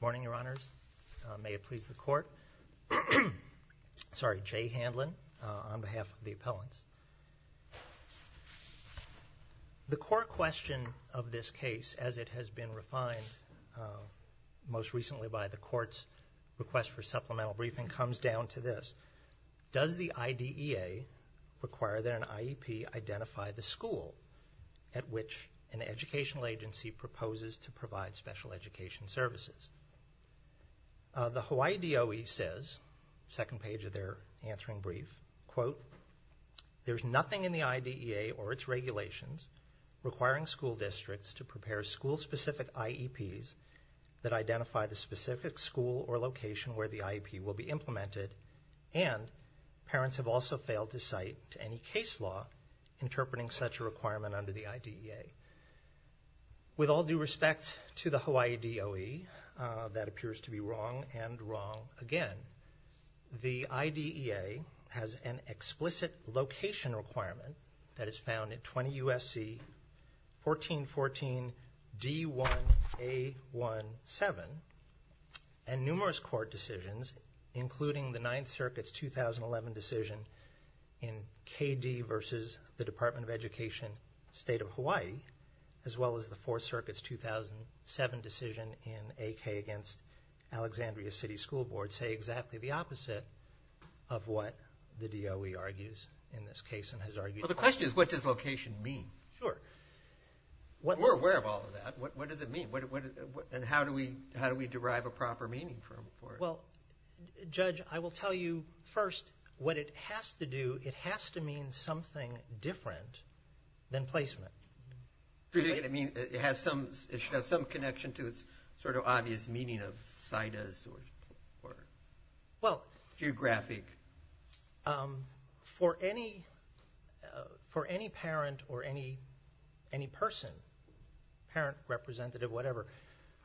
Morning, Your Honors. May it please the Court. Sorry, Jay Handlin on behalf of the appellants. The core question of this case as it has been refined most recently by the Court's request for supplemental briefing comes down to this. Does the IDEA require that an IEP identify the school at which an educational agency proposes to provide special education services? The Hawaii DOE says, second page of their answering brief, quote, there's nothing in the IDEA or its regulations requiring school districts to prepare school-specific IEPs that identify the specific school or location where the IEP will be implemented, and parents have also failed to cite any case law interpreting such a requirement under the IDEA. With all due respect to the Hawaii DOE, that appears to be wrong and wrong again. The IDEA has an explicit location requirement that is found in 20 U.S.C. 1414 D1A17, and numerous Court decisions, including the Ninth Circuit's 2011 decision in K.D. v. the Department of Education, State of Hawaii, as well as the Fourth Circuit's 2007 decision in A.K. against Alexandria City School Board say exactly the opposite of what the DOE argues in this case and has argued. Well, the question is, what does location mean? Sure. We're aware of all of that. What does it mean? And how do we derive a proper meaning from it? Well, Judge, I will tell you, first, what it has to do, it has to mean something different than placement. Do you think it has some, it should have some connection to its sort of obvious meaning of situs or geographic? For any parent or any person, parent, representative, whatever,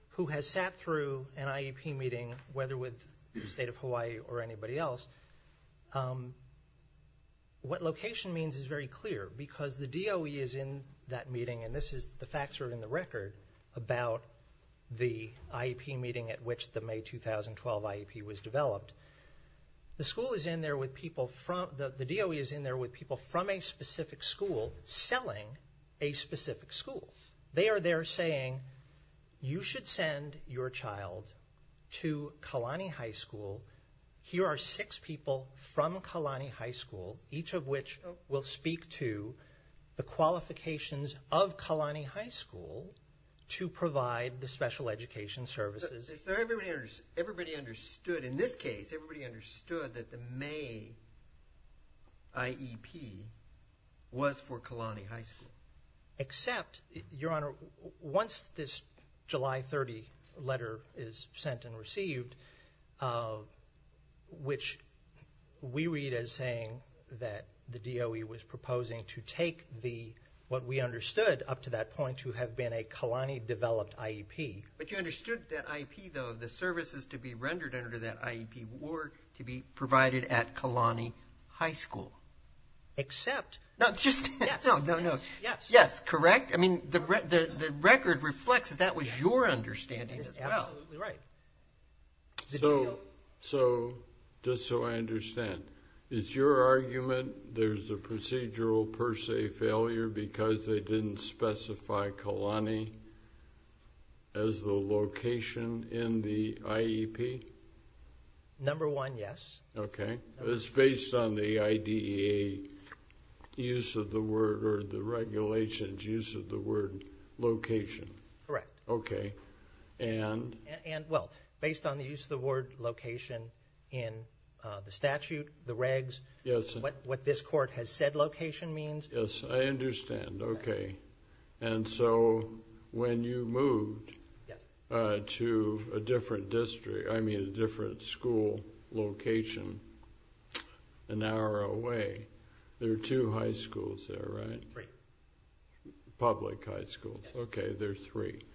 who has sat through an IEP meeting whether with the State of Hawaii or anybody else, what location means is very clear because the DOE is in that meeting, and this is the facts are in the record about the IEP meeting at which the May 2012 IEP was developed. The school is in there with people from, the DOE is in there with people from a specific school selling a specific school. They are there saying, you should send your child to Kalani High School. Here are six people from Kalani High School, each of which will speak to the qualifications of Kalani High School to provide the special education services. So everybody understood, in this case, everybody understood that the May IEP was for Kalani High School. Except, Your Honor, once this July 30 letter is sent and received, which we read as saying that the DOE was proposing to take the, what we understood up to that point, to have been a Kalani developed IEP. But you understood that IEP though, the services to be rendered under that IEP were to be provided at Kalani High School. Except. No, just. Yes. No, no, no. Yes. Yes, correct? I mean, the record reflects that that was your understanding as well. That's absolutely right. So, just so I understand, it's your argument there's a procedural per se failure because they didn't specify Kalani as the location in the IEP? Number one, yes. Okay. It's based on the IDEA use of the word, or the regulations use of the word, location. Correct. Okay. And? And, well, based on the use of the word location in the statute, the regs, what this court has said location means. Yes, I understand. Okay. And so, when you moved to a different district, I mean a different school location an hour away, there are two high schools there, right? Three. Public high schools. Yes. Okay. There's three. Okay.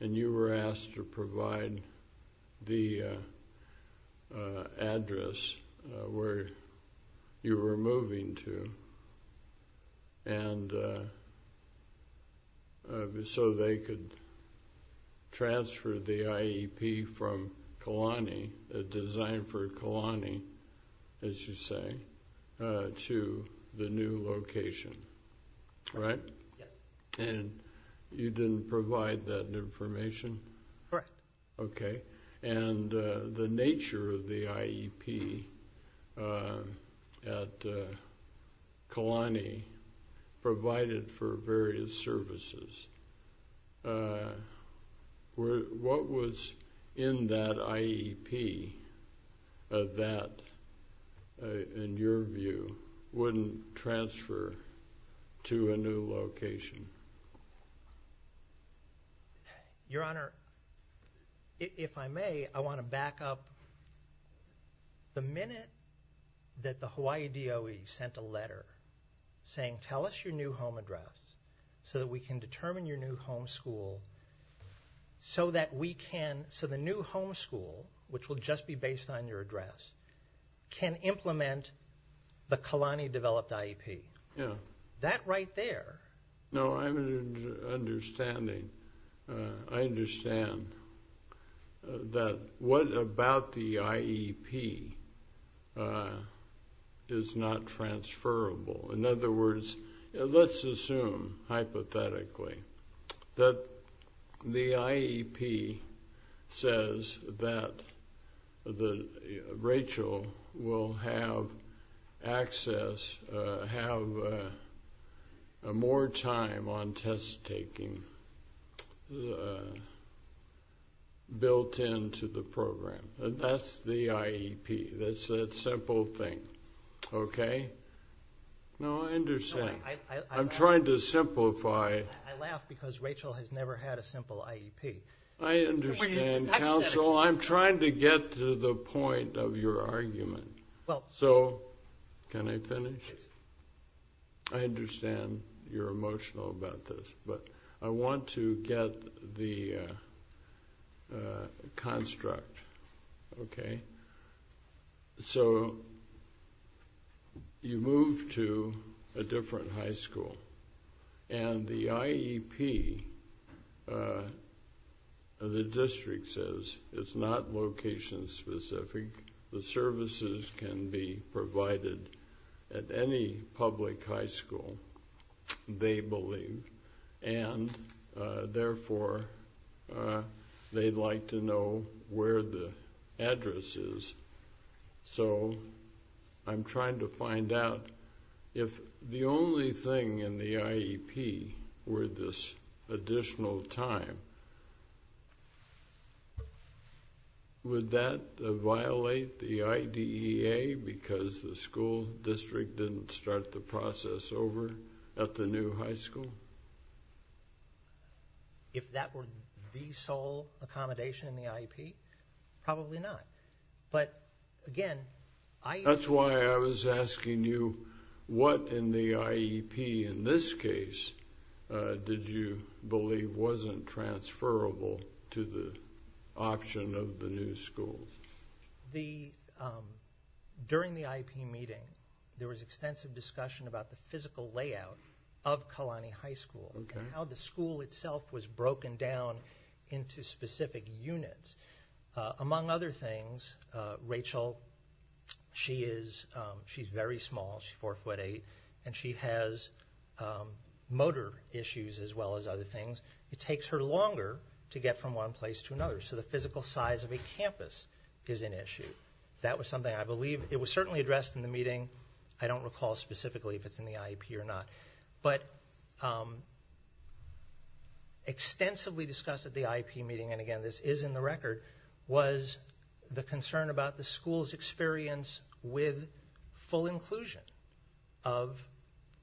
And you were asked to provide the address where you were moving to so they could transfer the IEP from Kalani, designed for Kalani, as you say, to the new location, right? Yes. And you didn't provide that information? Correct. Okay. And the nature of the IEP at Kalani provided for various services. What was in that IEP that, in your view, wouldn't transfer to a new location? Your Honor, if I may, I want to back up. The minute that the Hawaii DOE sent a letter saying, tell us your new home address so that we can determine your new homeschool so that we can, so the new homeschool, which will just be based on your address, can implement the Kalani-developed IEP. That right there. No, I'm understanding. I understand that what about the IEP is not transferable. In other words, let's assume, hypothetically, that the IEP says that Rachel will have access, have more time on test-taking built into the program. That's the IEP. That's that simple thing. Okay. No, I understand. I'm trying to simplify. I laugh because Rachel has never had a simple IEP. I understand, counsel. I'm trying to get to the point of your argument. So, can I finish? I understand you're emotional about this, but I want to get the construct. Okay. So, you move to a different high school, and the IEP, the district says, is not location-specific. The services can be provided at any public high school, they believe, and therefore, they'd like to know where the address is. So, I'm trying to find out if the only thing in the IEP were this additional time, would that violate the IDEA because the school district didn't start the process over at the new high school? If that were the sole accommodation in the IEP, probably not. But, again, I... That's why I was asking you what in the IEP in this case did you believe wasn't transferable to the option of the new school. The... During the IEP meeting, there was extensive discussion about the physical layout of Kalani High School and how the school itself was broken down into specific units. Among other things, Rachel, she is... She's very small, she's 4'8", and she has motor issues as well as other things. It takes her longer to get from one place to another. So, the physical size of a campus is an issue. That was something I believe... It was certainly addressed in the meeting. I don't recall specifically if it's in the IEP or not. But, extensively discussed at the IEP meeting, and again, this is in the record, was the concern about the school's experience with full inclusion of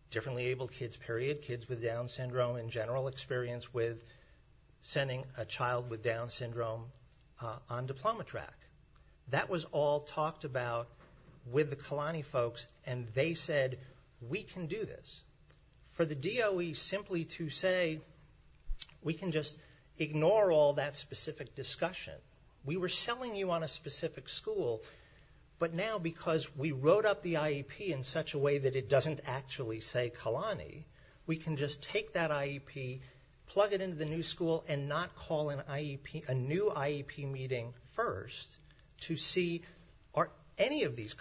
differently abled kids, period, Down syndrome in general experience with sending a child with Down syndrome on diploma track. That was all talked about with the Kalani folks, and they said, we can do this. For the DOE simply to say, we can just ignore all that specific discussion. We were selling you on a specific school, but now because we wrote up the IEP in such a way that it doesn't actually say Kalani, we can just take that IEP, plug it into the new school, and not call a new IEP meeting first to see are any of these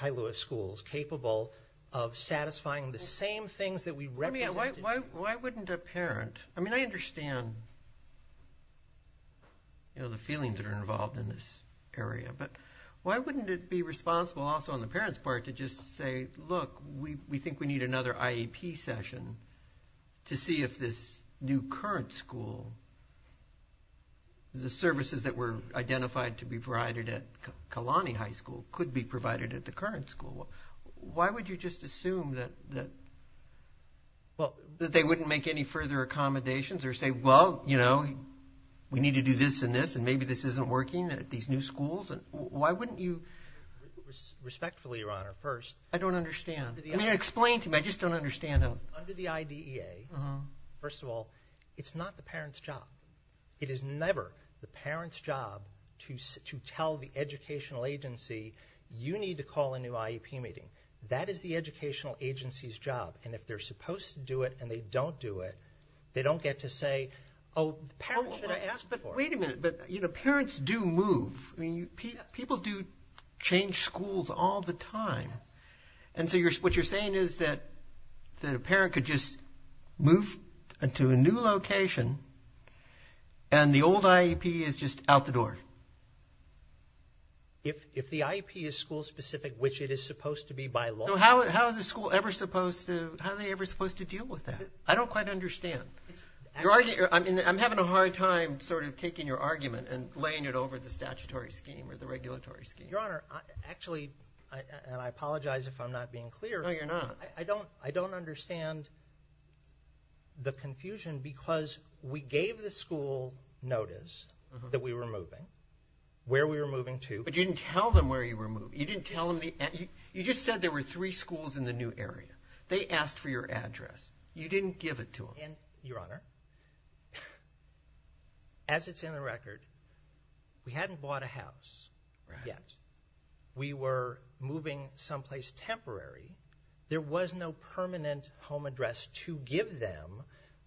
Kailua schools capable of satisfying the same things that we represented? Why wouldn't a parent... I mean, I understand the feelings that are involved in this area, but why wouldn't it be responsible also on the parent's part to just say, look, we think we need another IEP session to see if this new current school, the services that were identified to be provided at Kalani High School could be provided at the current school. Why would you just assume that they wouldn't make any further accommodations or say, well, you know, we need to do this and this, and maybe this isn't working at these new schools? Why wouldn't you... Respectfully, Your Honor, first... I don't understand. I mean, explain to me. I just don't understand. Under the IDEA, first of all, it's not the parent's job. It is never the parent's job to tell the educational agency, you need to call a new IEP meeting. That is the educational agency's job. And if they're supposed to do it and they don't do it, they don't get to say, oh, the parent should have asked before. Wait a minute. But, you know, parents do move. People do change schools all the time. And so what you're saying is that a parent could just move to a new location and the old IEP is just out the door. If the IEP is school-specific, which it is supposed to be by law... So how is a school ever supposed to... How are they ever supposed to deal with that? I don't quite understand. I'm having a hard time sort of taking your argument and laying it over the statutory scheme or the regulatory scheme. Your Honor, actually, and I apologize if I'm not being clear. No, you're not. I don't understand the confusion because we gave the school notice that we were moving, where we were moving to. But you didn't tell them where you were moving. You didn't tell them the... You just said there were three schools in the new area. They asked for your address. You didn't give it to them. Your Honor, as it's in the record, we hadn't bought a house yet. We were moving someplace temporary. There was no permanent home address to give them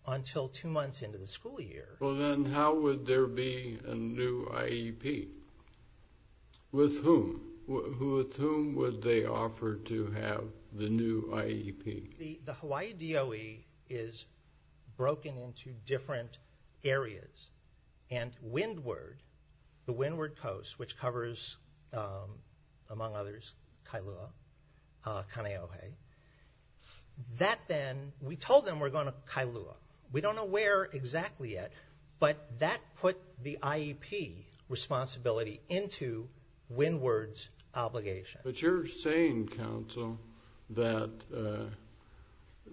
until two months into the school year. Well, then how would there be a new IEP? With whom? With whom would they offer to have the new IEP? The Hawaii DOE is broken into different areas, and Windward, the Windward Coast, which covers, among others, Kailua, Kaneohe, that then, we told them we're going to Kailua. We don't know where exactly yet, but that put the IEP responsibility into Windward's obligation. But you're saying, counsel, that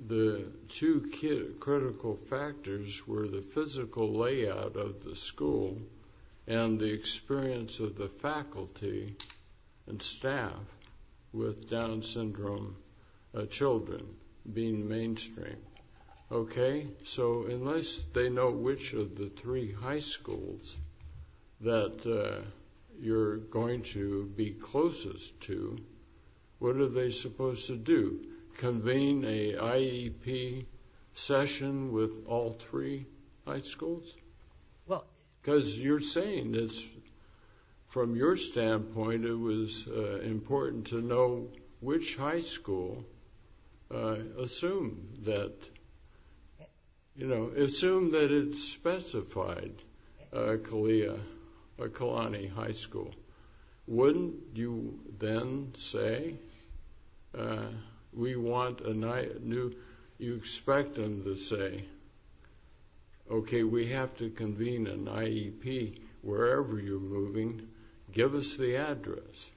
the two critical factors were the physical layout of the school and the experience of the faculty and staff with Down syndrome children being mainstream. Okay? So unless they know which of the three high schools that you're going to be closest to, what are they supposed to do? Convene a IEP session with all three high schools? Well... Because you're saying it's, from your standpoint, it was important to know which high school, assume that, you know, assume that it's specified Kalia, Kalani High School. Wouldn't you then say, we want a new, you expect them to say, okay, we have to convene an IEP wherever you're moving. Give us the address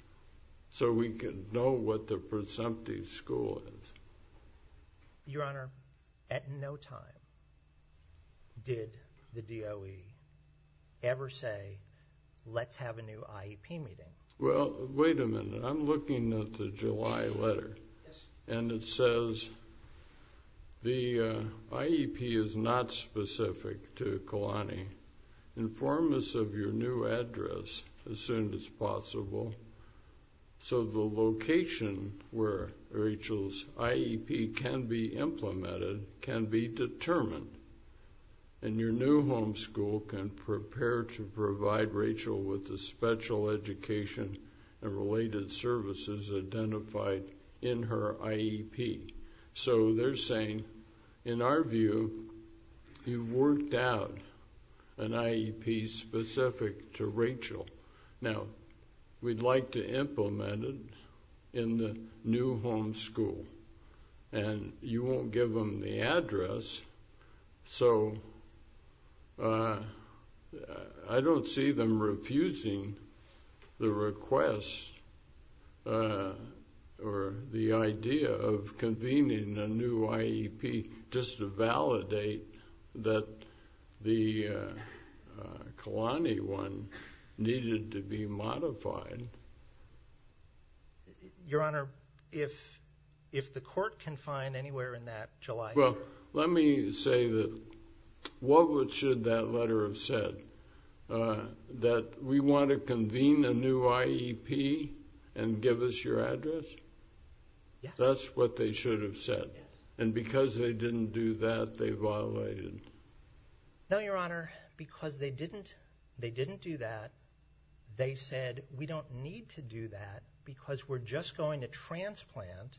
so we can know what the presumptive school is. Your Honor, at no time did the DOE ever say, let's have a new IEP meeting. Well, wait a minute. I'm looking at the July letter. And it says, the IEP is not specific to Kalani. Inform us of your new address as soon as possible. So the location where Rachel's IEP can be implemented can be determined. And your new home school can prepare to provide Rachel with a special education and related services identified in her IEP. So they're saying, in our view, you've worked out an IEP specific to Rachel. Now, we'd like to implement it in the new home school. And you won't give them the address. So I don't see them refusing the request or the idea of convening a new IEP just to validate that the Kalani one needed to be modified. Your Honor, if the court can find anywhere in that July letter Well, let me say that what should that letter have said? That we want to convene a new IEP and give us your address? Yes. That's what they should have said? Yes. And because they didn't do that, they violated? No, Your Honor. Because they didn't do that, they said we don't need to do that because we're just going to transplant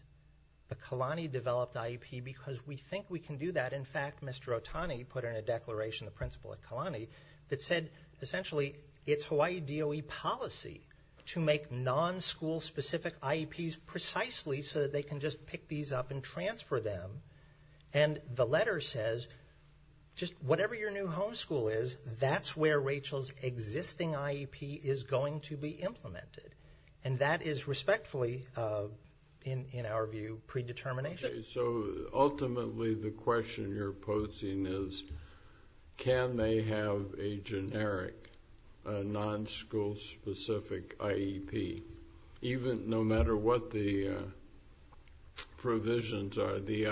the Kalani developed IEP because we think we can do that. In fact, Mr. Otani put in a declaration, the principal at Kalani, that said essentially it's Hawaii DOE policy to make non-school specific IEPs precisely so that they can just pick these up and transfer them. And the letter says just whatever your new homeschool is, that's where Rachel's existing IEP is going to be implemented. And that is respectfully, in our view, predetermination. Okay, so ultimately the question you're posing is can they have a generic non-school specific IEP? Even, no matter what the provisions are, the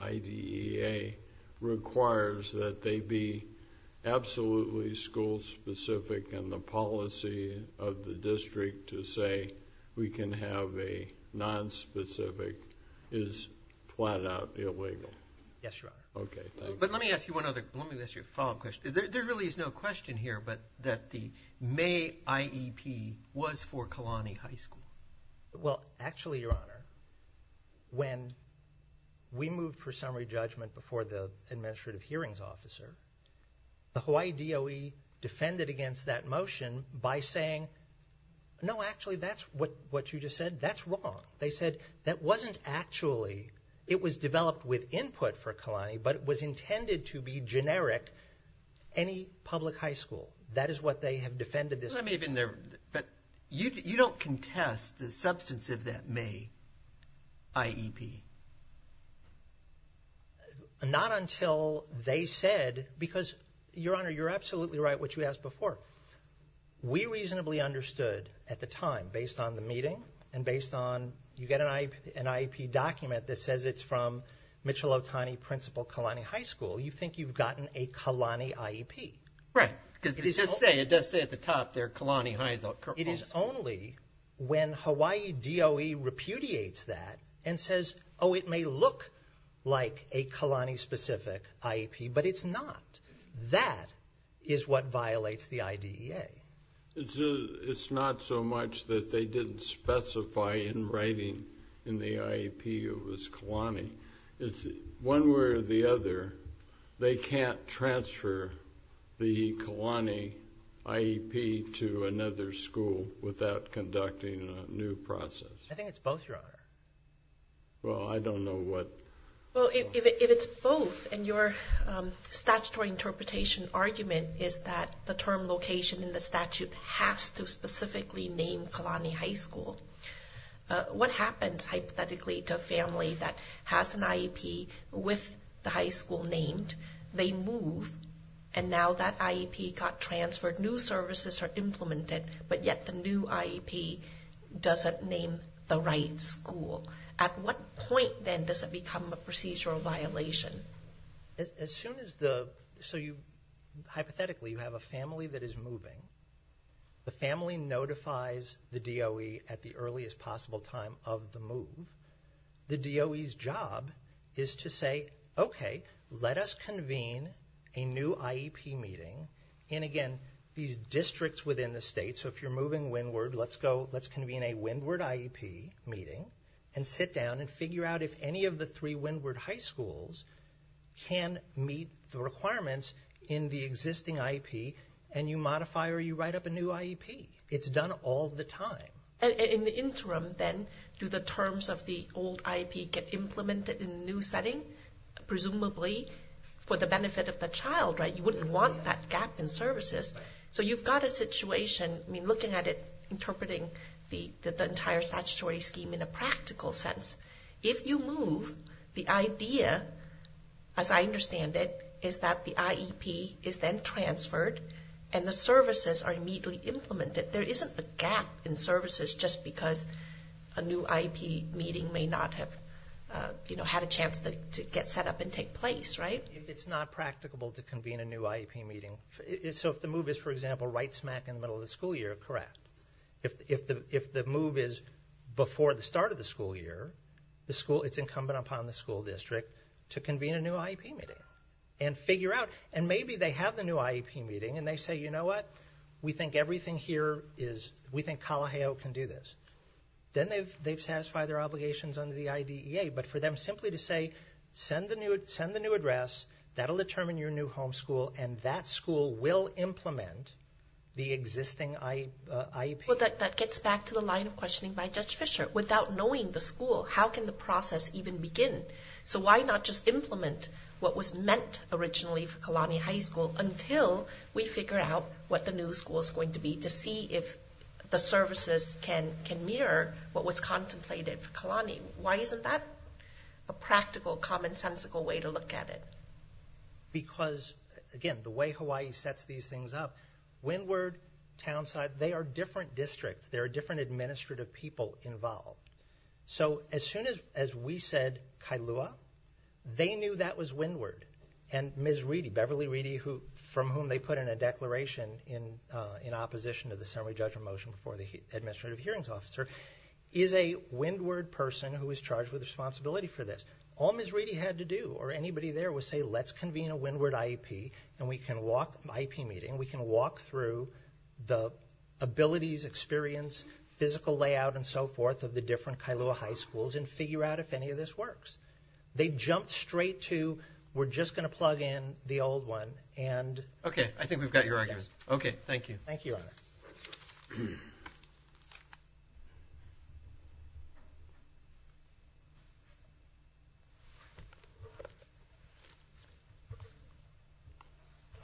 IDEA requires that they be absolutely school specific and the policy of the district to say we can have a non-specific is flat out illegal. Yes, Your Honor. Okay, thank you. But let me ask you one other, let me ask you a follow-up question. There really is no question here that the May IEP was for Kalani High School. Well, actually, Your Honor, when we moved for summary judgment before the Administrative Hearings Officer, the Hawaii DOE defended against that motion by saying no, actually, that's what you just said, that's wrong. They said that wasn't actually, it was developed with input for Kalani, but it was intended to be generic, any public high school. That is what they have defended. I may have been there, but you don't contest the substance of that May IEP. Not until they said, because Your Honor, you're absolutely right what you asked before. We reasonably understood at the time, based on the meeting and based on, you get an IEP document that says it's from Mitchell Otani Principal Kalani High School. You think you've gotten a Kalani IEP. Right, because it does say at the top there, Kalani High School. It is only when Hawaii DOE repudiates that and says, oh, it may look like a Kalani-specific IEP, but it's not. That is what violates the IDEA. It's not so much that they didn't specify in writing in the IEP it was Kalani. It's one way or the other, they can't transfer the Kalani IEP to another school without conducting a new process. I think it's both, Your Honor. Well, I don't know what... Well, if it's both, and your statutory interpretation argument is that the term location in the statute has to specifically name Kalani High School, what happens, hypothetically, to a family that has an IEP with the high school named? They move, and now that IEP got transferred. New services are implemented, but yet the new IEP doesn't name the right school. At what point, then, does it become a procedural violation? As soon as the... Hypothetically, you have a family that is moving. The family notifies the DOE at the earliest possible time of the move. The DOE's job is to say, okay, let us convene a new IEP meeting in, again, these districts within the state. So if you're moving Windward, let's go, let's convene a Windward IEP meeting and sit down and figure out if any of the three Windward high schools can meet the requirements in the existing IEP, and you modify or you write up a new IEP. It's done all the time. And in the interim, then, do the terms of the old IEP get implemented in a new setting? Presumably, for the benefit of the child, right? You wouldn't want that gap in services. So you've got a situation, I mean, looking at it, interpreting the entire statutory scheme in a practical sense. If you move, the idea, as I understand it, is that the IEP is then transferred and the services are immediately implemented. There isn't a gap in services just because a new IEP meeting may not have, you know, had a chance to get set up and take place, right? If it's not practicable to convene a new IEP meeting, so if the move is, for example, right smack in the middle of the school year, correct. If the move is before the start of the school year, it's incumbent upon the school district to convene a new IEP meeting and figure out, and maybe they have the new IEP meeting and they say, you know what? We think Kalaheo can do this. Then they've satisfied their obligations under the IDEA, but for them simply to say, send the new address, that'll determine your new homeschool and that school will implement the existing IEP. Well, that gets back to the line of questioning by Judge Fischer. Without knowing the school, how can the process even begin? So why not just implement what was meant originally for Kalaheo High School until we figure out what the new school is going to be to see if the services can mirror what was contemplated for Kalaheo. Why isn't that a practical, common-sensical way to look at it? Because, again, the way Hawaii sets these things up, Windward, Townside, they are different districts. There are different administrative people involved. So as soon as we said Kailua, they knew that was Windward. And Ms. Reedy, Beverly Reedy, from whom they put in a declaration in opposition to the summary judgment motion before the Administrative Hearings Officer, is a Windward person who is charged with responsibility for this. All Ms. Reedy had to do, or anybody there, was say, let's convene a Windward IEP and we can walk through the abilities, experience, physical layout, and so forth, of the different Kailua high schools and figure out if any of this works. They jumped straight to, we're just going to plug in the old one. Okay, I think we've got your argument. Thank you.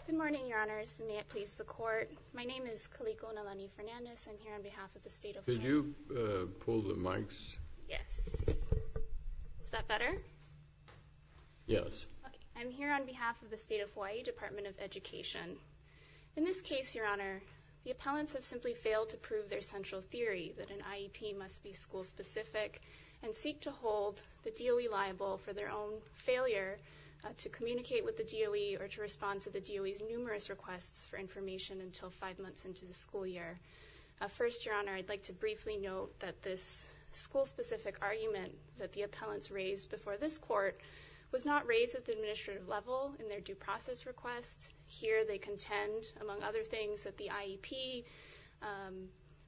Good morning, Your Honors. May it please the Court. My name is Kaliko Nalani-Fernandez. I'm here on behalf of the State of Hawaii. Could you pull the mics? Yes. Is that better? Yes. I'm here on behalf of the State of Hawaii Department of Education. In this case, Your Honor, the appellants have simply failed to prove their central theory that an IEP must be school specific and seek to hold the DOE liable for their own failure to communicate with the DOE or to respond to the DOE's numerous requests for information until five months into the school year. First, Your Honor, I'd like to briefly note that this school specific argument that the appellants raised before this court was not raised at the administrative level in their due process request. Here, they contend, among other things, that the IEP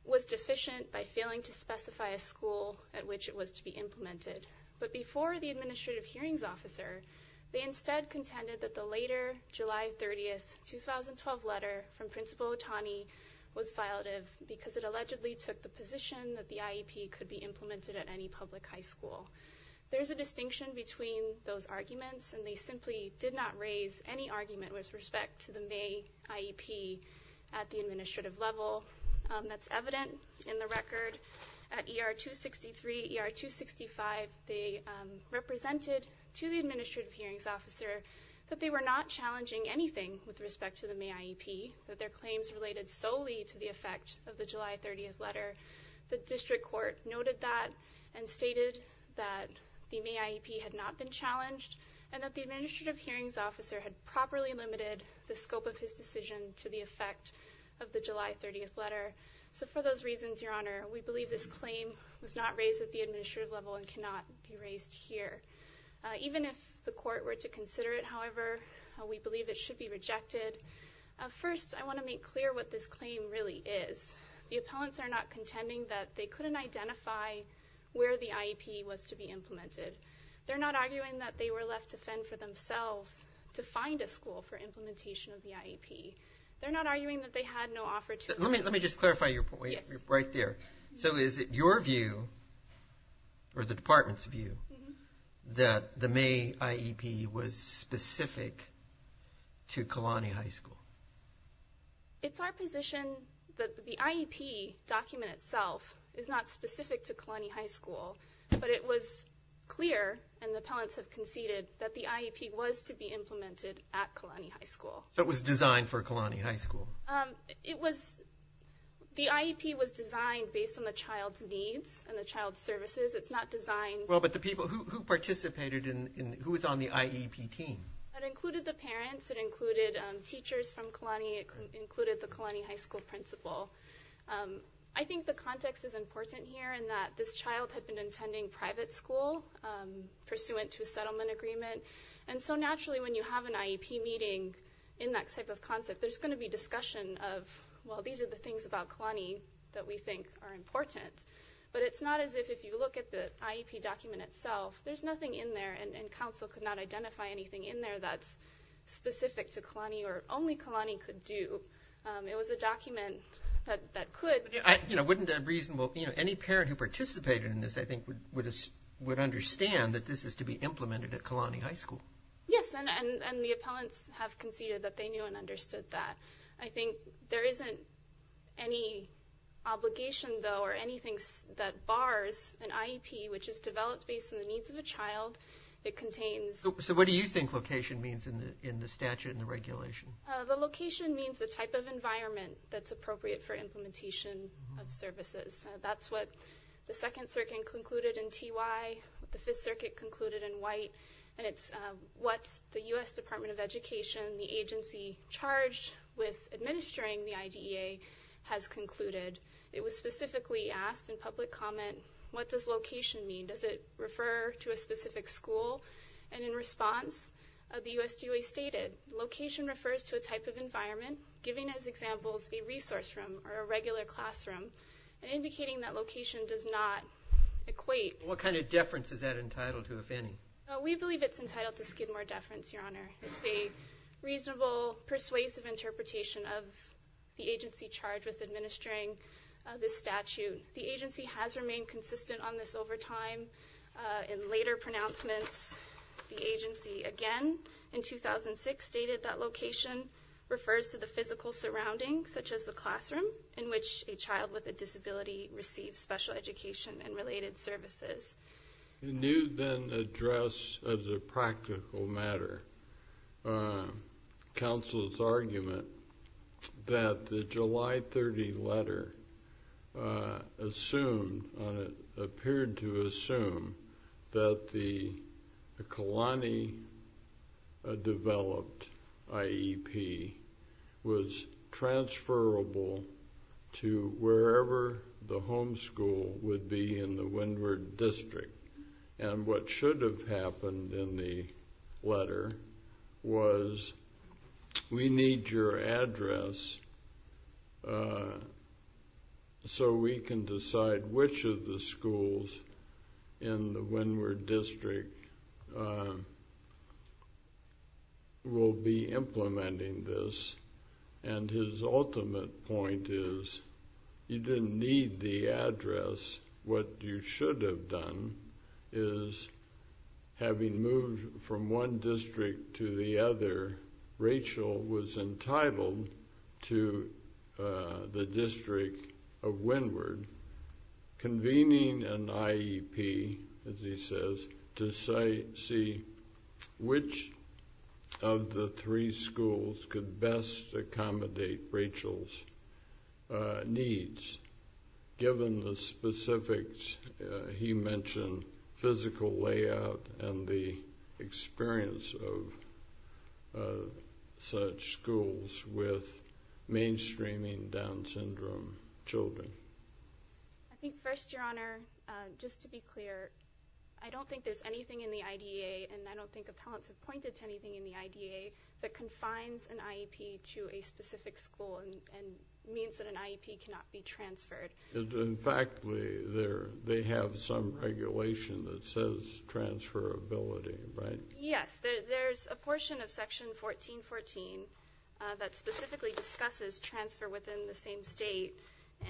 was deficient by which it was to be implemented. But before the administrative hearings officer, they instead contended that the later July 30, 2012 letter from Principal Otani was violative because it allegedly took the position that the IEP could be implemented at any public high school. There's a distinction between those arguments, and they simply did not raise any argument with respect to the May IEP at the administrative level. That's evident in the record that at ER 263, ER 265, they represented to the administrative hearings officer that they were not challenging anything with respect to the May IEP, that their claims related solely to the effect of the July 30 letter. The district court noted that and stated that the May IEP had not been challenged, and that the administrative hearings officer had properly limited the scope of his decision to the effect of the July 30 letter. So for those reasons, Your Honor, we believe this claim was not raised at the administrative level and cannot be raised here. Even if the court were to consider it, however, we believe it should be rejected. First, I want to make clear what this claim really is. The appellants are not contending that they couldn't identify where the IEP was to be implemented. They're not arguing that they were left to fend for themselves to find a school for implementation of the IEP. They're not arguing that they had no offer to them. Let me just clarify your point right there. So is it your view or the department's view that the May IEP was specific to Kalani High School? It's our position that the IEP document itself is not specific to Kalani High School, but it was clear, and the appellants have conceded, that the IEP was to be implemented at Kalani High School. So it was designed for Kalani High School? The IEP was designed based on the child's needs and the child's services. It's not designed... Who was on the IEP team? It included the parents. It included teachers from Kalani. It included the Kalani High School principal. I think the context is important here in that this child had been attending private school pursuant to a settlement agreement, and so naturally when you have an IEP meeting in that type of concept, there's going to be discussion of, well, these are the things about Kalani that we think are important. But it's not as if you look at the IEP document itself, there's nothing in there, and council could not identify anything in there that's specific to Kalani or only Kalani could do. It was a document that could... Any parent who participated in this, I think, would understand that this is to be and the appellants have conceded that they knew and understood that. I think there isn't any obligation, though, or anything that bars an IEP which is developed based on the needs of a child. It contains... So what do you think location means in the statute and the regulation? The location means the type of environment that's appropriate for implementation of services. That's what the Second Circuit concluded in TY, the Fifth Circuit concluded in White, and it's what the U.S. Department of Education, the agency charged with administering the IDEA has concluded. It was specifically asked in public comment, what does location mean? Does it refer to a specific school? And in response the USDA stated location refers to a type of environment giving as examples a resource room or a regular classroom and indicating that location does not equate... What kind of deference is that entitled to, if any? We believe it's entitled to skid more deference, Your Honor. It's a reasonable, persuasive interpretation of the agency charged with administering this statute. The agency has remained consistent on this over time in later pronouncements. The agency again, in 2006, stated that location refers to the physical surrounding, such as the classroom in which a child with a disability receives special education and related services. Can you then address as a practical matter counsel's argument that the July 30 letter assumed or appeared to assume that the Kalani developed IEP was transferable to wherever the home school would be in the Windward District and what should have happened in the letter was we need your address so we can decide which of the schools in the Windward District will be implementing this and his ultimate point is you didn't need the address. What you should have done is having moved from one district to the other Rachel was entitled to the District of Windward convening an IEP as he says, to see which of the three schools could best accommodate Rachel's needs, given the specifics he mentioned, physical layout and the experience of such schools with mainstreaming Down Syndrome children. I think first, Your Honor just to be clear I don't think there's anything in the IDEA and I don't think appellants have pointed to anything in the IDEA that confines an IEP to a specific school and means that an IEP cannot be transferred. In fact, they have some regulation that says transferability, right? Yes, there's a portion of section 1414 that specifically discusses transfer within the same state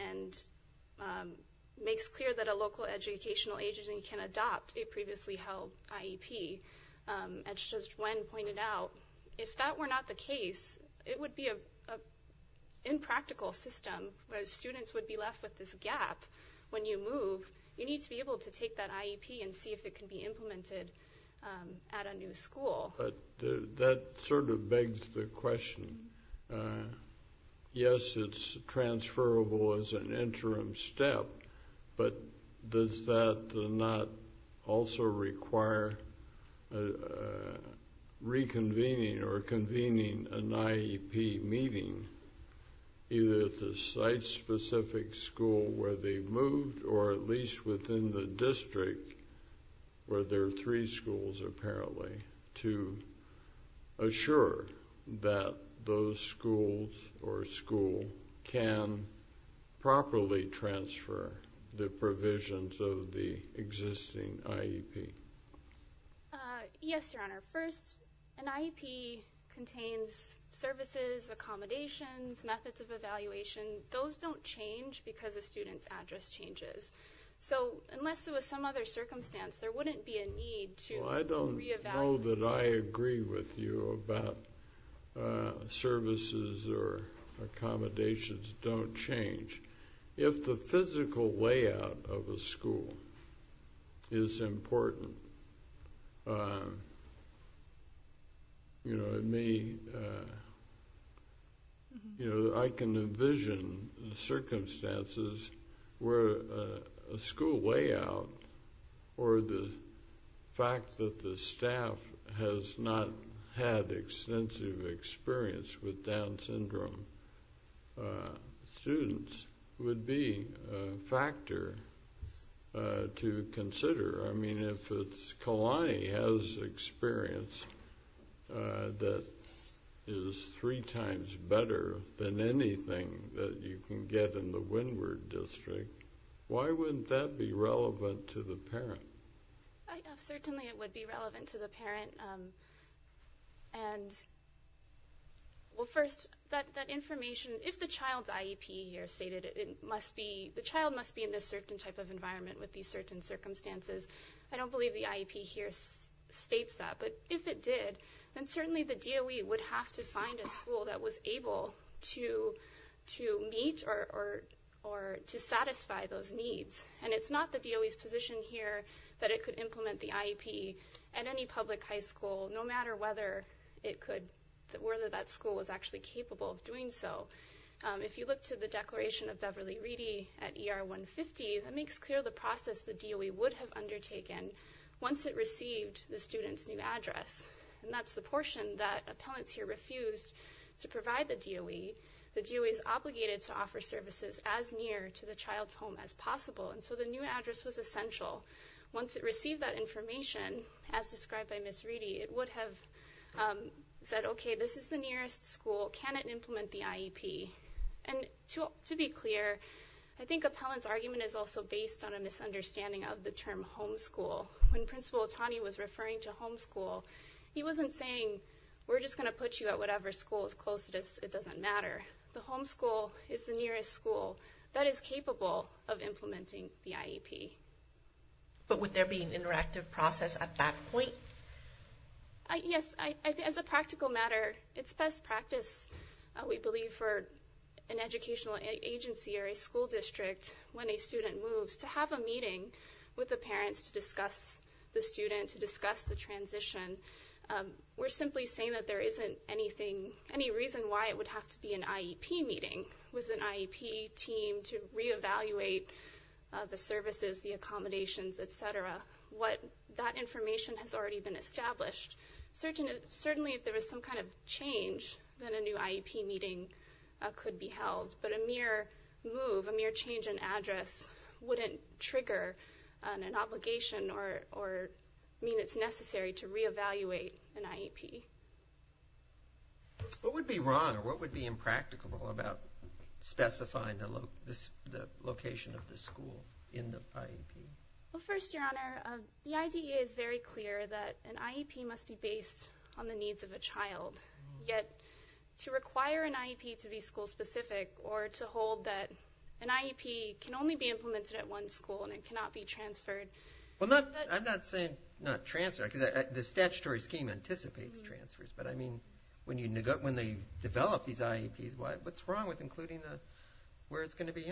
and makes clear that a local educational agency can adopt a previously held IEP as Judge Wen pointed out. If that were not the case, it would be an impractical system where students would be left with this gap when you move. You need to be able to take that IEP and see if it can be implemented at a new school. That sort of begs the question yes it's transferable as an interim step but does that not also require reconvening or convening an IEP meeting either at the site specific school where they moved or at least within the district where there are three schools apparently to assure that those schools or school can properly transfer the provisions of the existing IEP? Yes your honor first an IEP contains services accommodations, methods of evaluation those don't change because a student's address changes so unless there was some other circumstance there wouldn't be a need to re-evaluate. Well I don't know that I agree with you about services or accommodations don't change if the physical layout of a school is important you know it may you know I can envision circumstances where a school layout or the fact that the staff has not had extensive experience with Down syndrome students would be a factor to consider I mean if Kalani has experience that is three times better than anything that you can get in the Windward district why wouldn't that be relevant to the parent? Certainly it would be relevant to the parent and well first that information if the child's IEP here stated it must be the child must be in this certain type of environment with these certain circumstances I don't believe the IEP here states that but if it did then certainly the DOE would have to find a school that was able to meet or to satisfy those needs and it's not the DOE's position here that it could implement the IEP at any public high school no matter whether it could whether that school was actually capable of doing so if you look to the declaration of Beverly Reedy at ER 150 that makes clear the process the DOE would have undertaken once it received the student's new address and that's the portion that appellants here refused to provide the DOE the DOE is obligated to offer services as near to the child's home as possible and so the new address was essential once it received that information as described by Ms. Reedy it would have said okay this is the nearest school can it implement the IEP and to be clear I think appellant's argument is also based on a misunderstanding of the term homeschool when Principal Otani was referring to homeschool he wasn't saying we're just going to put you at whatever school as close as it doesn't matter the homeschool is the nearest school that is capable of implementing the IEP but would there be an interactive process at that point? Yes as a practical matter it's best practice we believe for an educational agency or a school district when a student moves to have a meeting with the parents to discuss the student to discuss the transition we're simply saying that there isn't anything any reason why it would have to be an IEP meeting with an IEP team to re-evaluate the services, the accommodations etc. what that information has already been established certainly if there was some kind of change then a new IEP meeting could be held but a mere move, a mere change in address wouldn't trigger an obligation or mean it's necessary to re-evaluate an IEP What would be wrong or what would be impracticable about specifying the location of the school in the IEP? First your honor, the IDEA is very clear that an IEP must be based on the needs of a child yet to require an IEP to be school specific or to hold that an IEP can only be implemented at one school and it cannot be transferred I'm not saying not transferred the statutory scheme anticipates transfers but I mean when they develop these IEPs what's wrong with including where it's going to be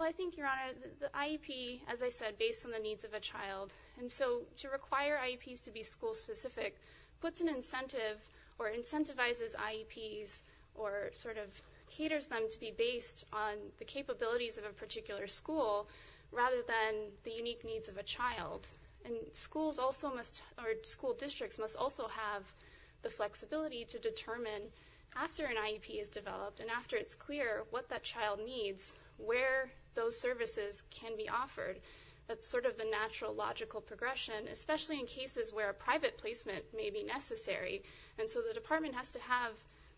I think your honor the IEP as I said based on the needs of a child and so to require IEPs to be school specific puts an incentive or incentivizes IEPs or sort of caters them to be based on the capabilities of a particular school rather than the unique needs of a child and school districts must also have the flexibility to determine after an IEP is developed and after it's clear what that child needs where those services can be offered that's sort of the natural logical progression especially in cases where private placement may be necessary and so the department has to have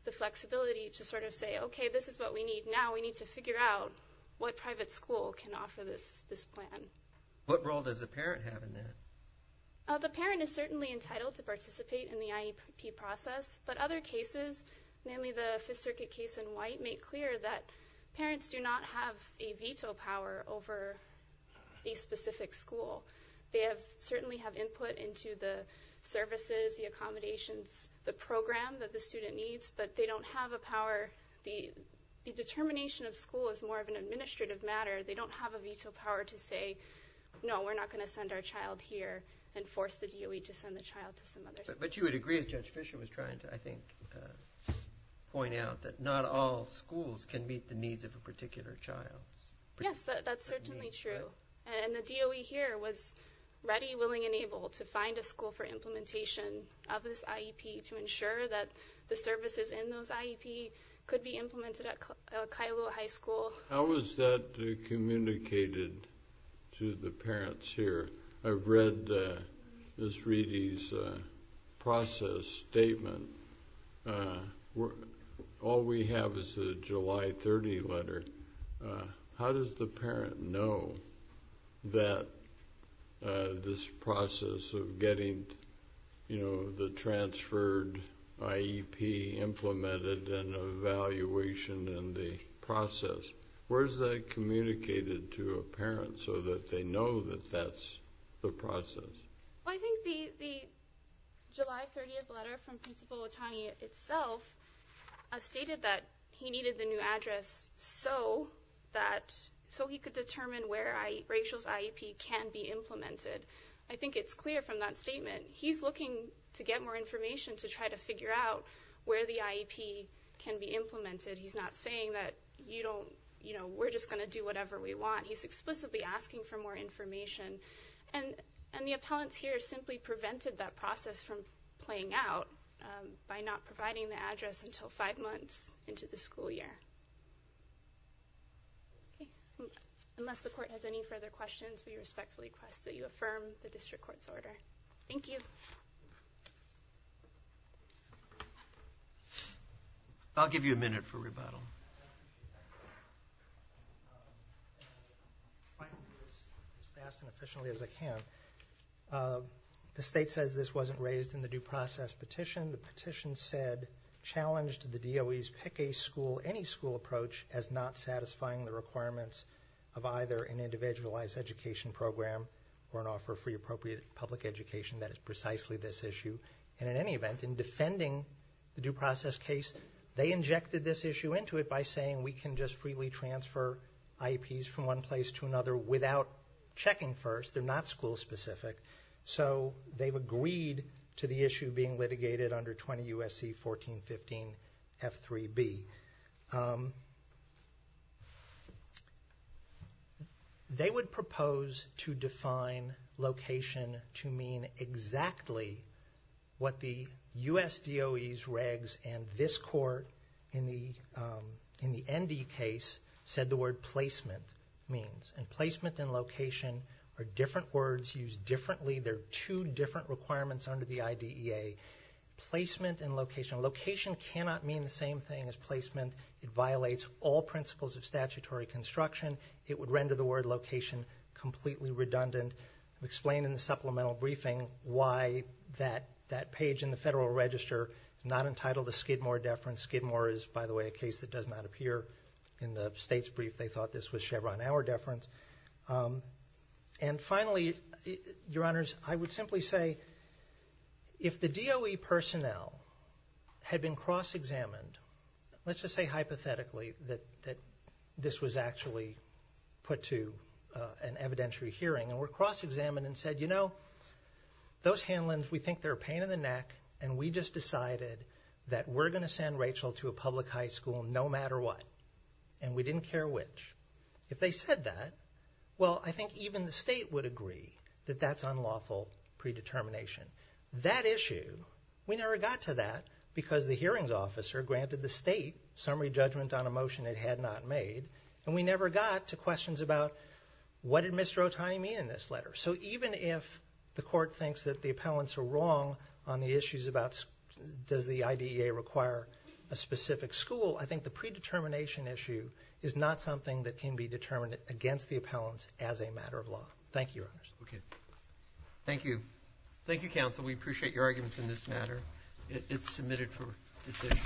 the flexibility to sort of say this is what we need now we need to figure out what private school can offer this plan What role does the parent have in that? The parent is certainly entitled to participate in the IEP process but other cases namely the 5th Circuit case in White make clear that parents do not have a veto power over a specific school they certainly have input into the services, the accommodations the program that the student needs but they don't have a power the determination of school is more of an administrative matter they don't have a veto power to say no we're not going to send our child here and force the DOE to send the child to some other school But you would agree as Judge Fischer was trying to point out that not all schools can meet the needs of a particular child Yes, that's certainly true and the DOE here was ready, willing and able to find a school for implementation of this IEP to ensure that the services in those IEP could be implemented at Kailua High School How is that communicated to the parents here? I've read Ms. Reedy's process statement All we have is a July 30 letter How does the parent know that this process of getting you know the transferred IEP implemented and evaluation and the process Where is that communicated to a parent so that they know that that's the process I think the July 30 letter from Principal Watani itself stated that he needed the new address so that so he could determine where Rachel's IEP can be implemented I think it's clear from that statement he's looking to get more information to try to figure out where the IEP can be implemented he's not saying that we're just going to do whatever we want he's explicitly asking for more information and the appellants here simply prevented that process from playing out by not providing the address until 5 months into the school year Unless the court has any further questions, we respectfully request that you affirm the district court's order Thank you I'll give you a minute for rebuttal If I can do this as fast and efficiently as I can The state says this wasn't raised in the due process petition The petition said, challenged the DOE's pick a school, any school approach as not satisfying the requirements of either an individualized education program or an offer of free appropriate public education that is precisely this issue and in any event, in defending the due process case, they injected this issue into it by saying we can just completely transfer IEPs from one place to another without checking first, they're not school specific so they've agreed to the issue being litigated under 20 U.S.C. 1415 F3B They would propose to define location to mean exactly what the U.S. DOE's regs and this court in the ND case, said the word placement means, and placement and location are different words used differently, they're two different requirements under the IDEA placement and location, location cannot mean the same thing as placement it violates all principles of statutory construction, it would render the word location completely redundant, explained in the supplemental briefing why that page in the Federal Register is not entitled to Skidmore deference Skidmore is by the way a case that does not appear in the state's brief they thought this was Chevron hour deference and finally your honors, I would simply say if the DOE personnel had been cross examined, let's just say hypothetically that this was actually put to an evidentiary hearing and were cross examined and said you know those Hanlons, we think they're a pain in the neck and we just decided that we're going to send Rachel to a public high school no matter what and we didn't care which if they said that well I think even the state would agree that that's unlawful predetermination that issue we never got to that because the hearings officer granted the state summary judgment on a motion it had not made and we never got to questions about what did Mr. Otani mean in this letter, so even if the court thinks that the appellants are wrong on the issues about does the IDEA require a specific school, I think the predetermination issue is not something that can be determined against the appellants as a matter of law, thank you your honors okay, thank you thank you counsel, we appreciate your arguments in this matter, it's submitted for decision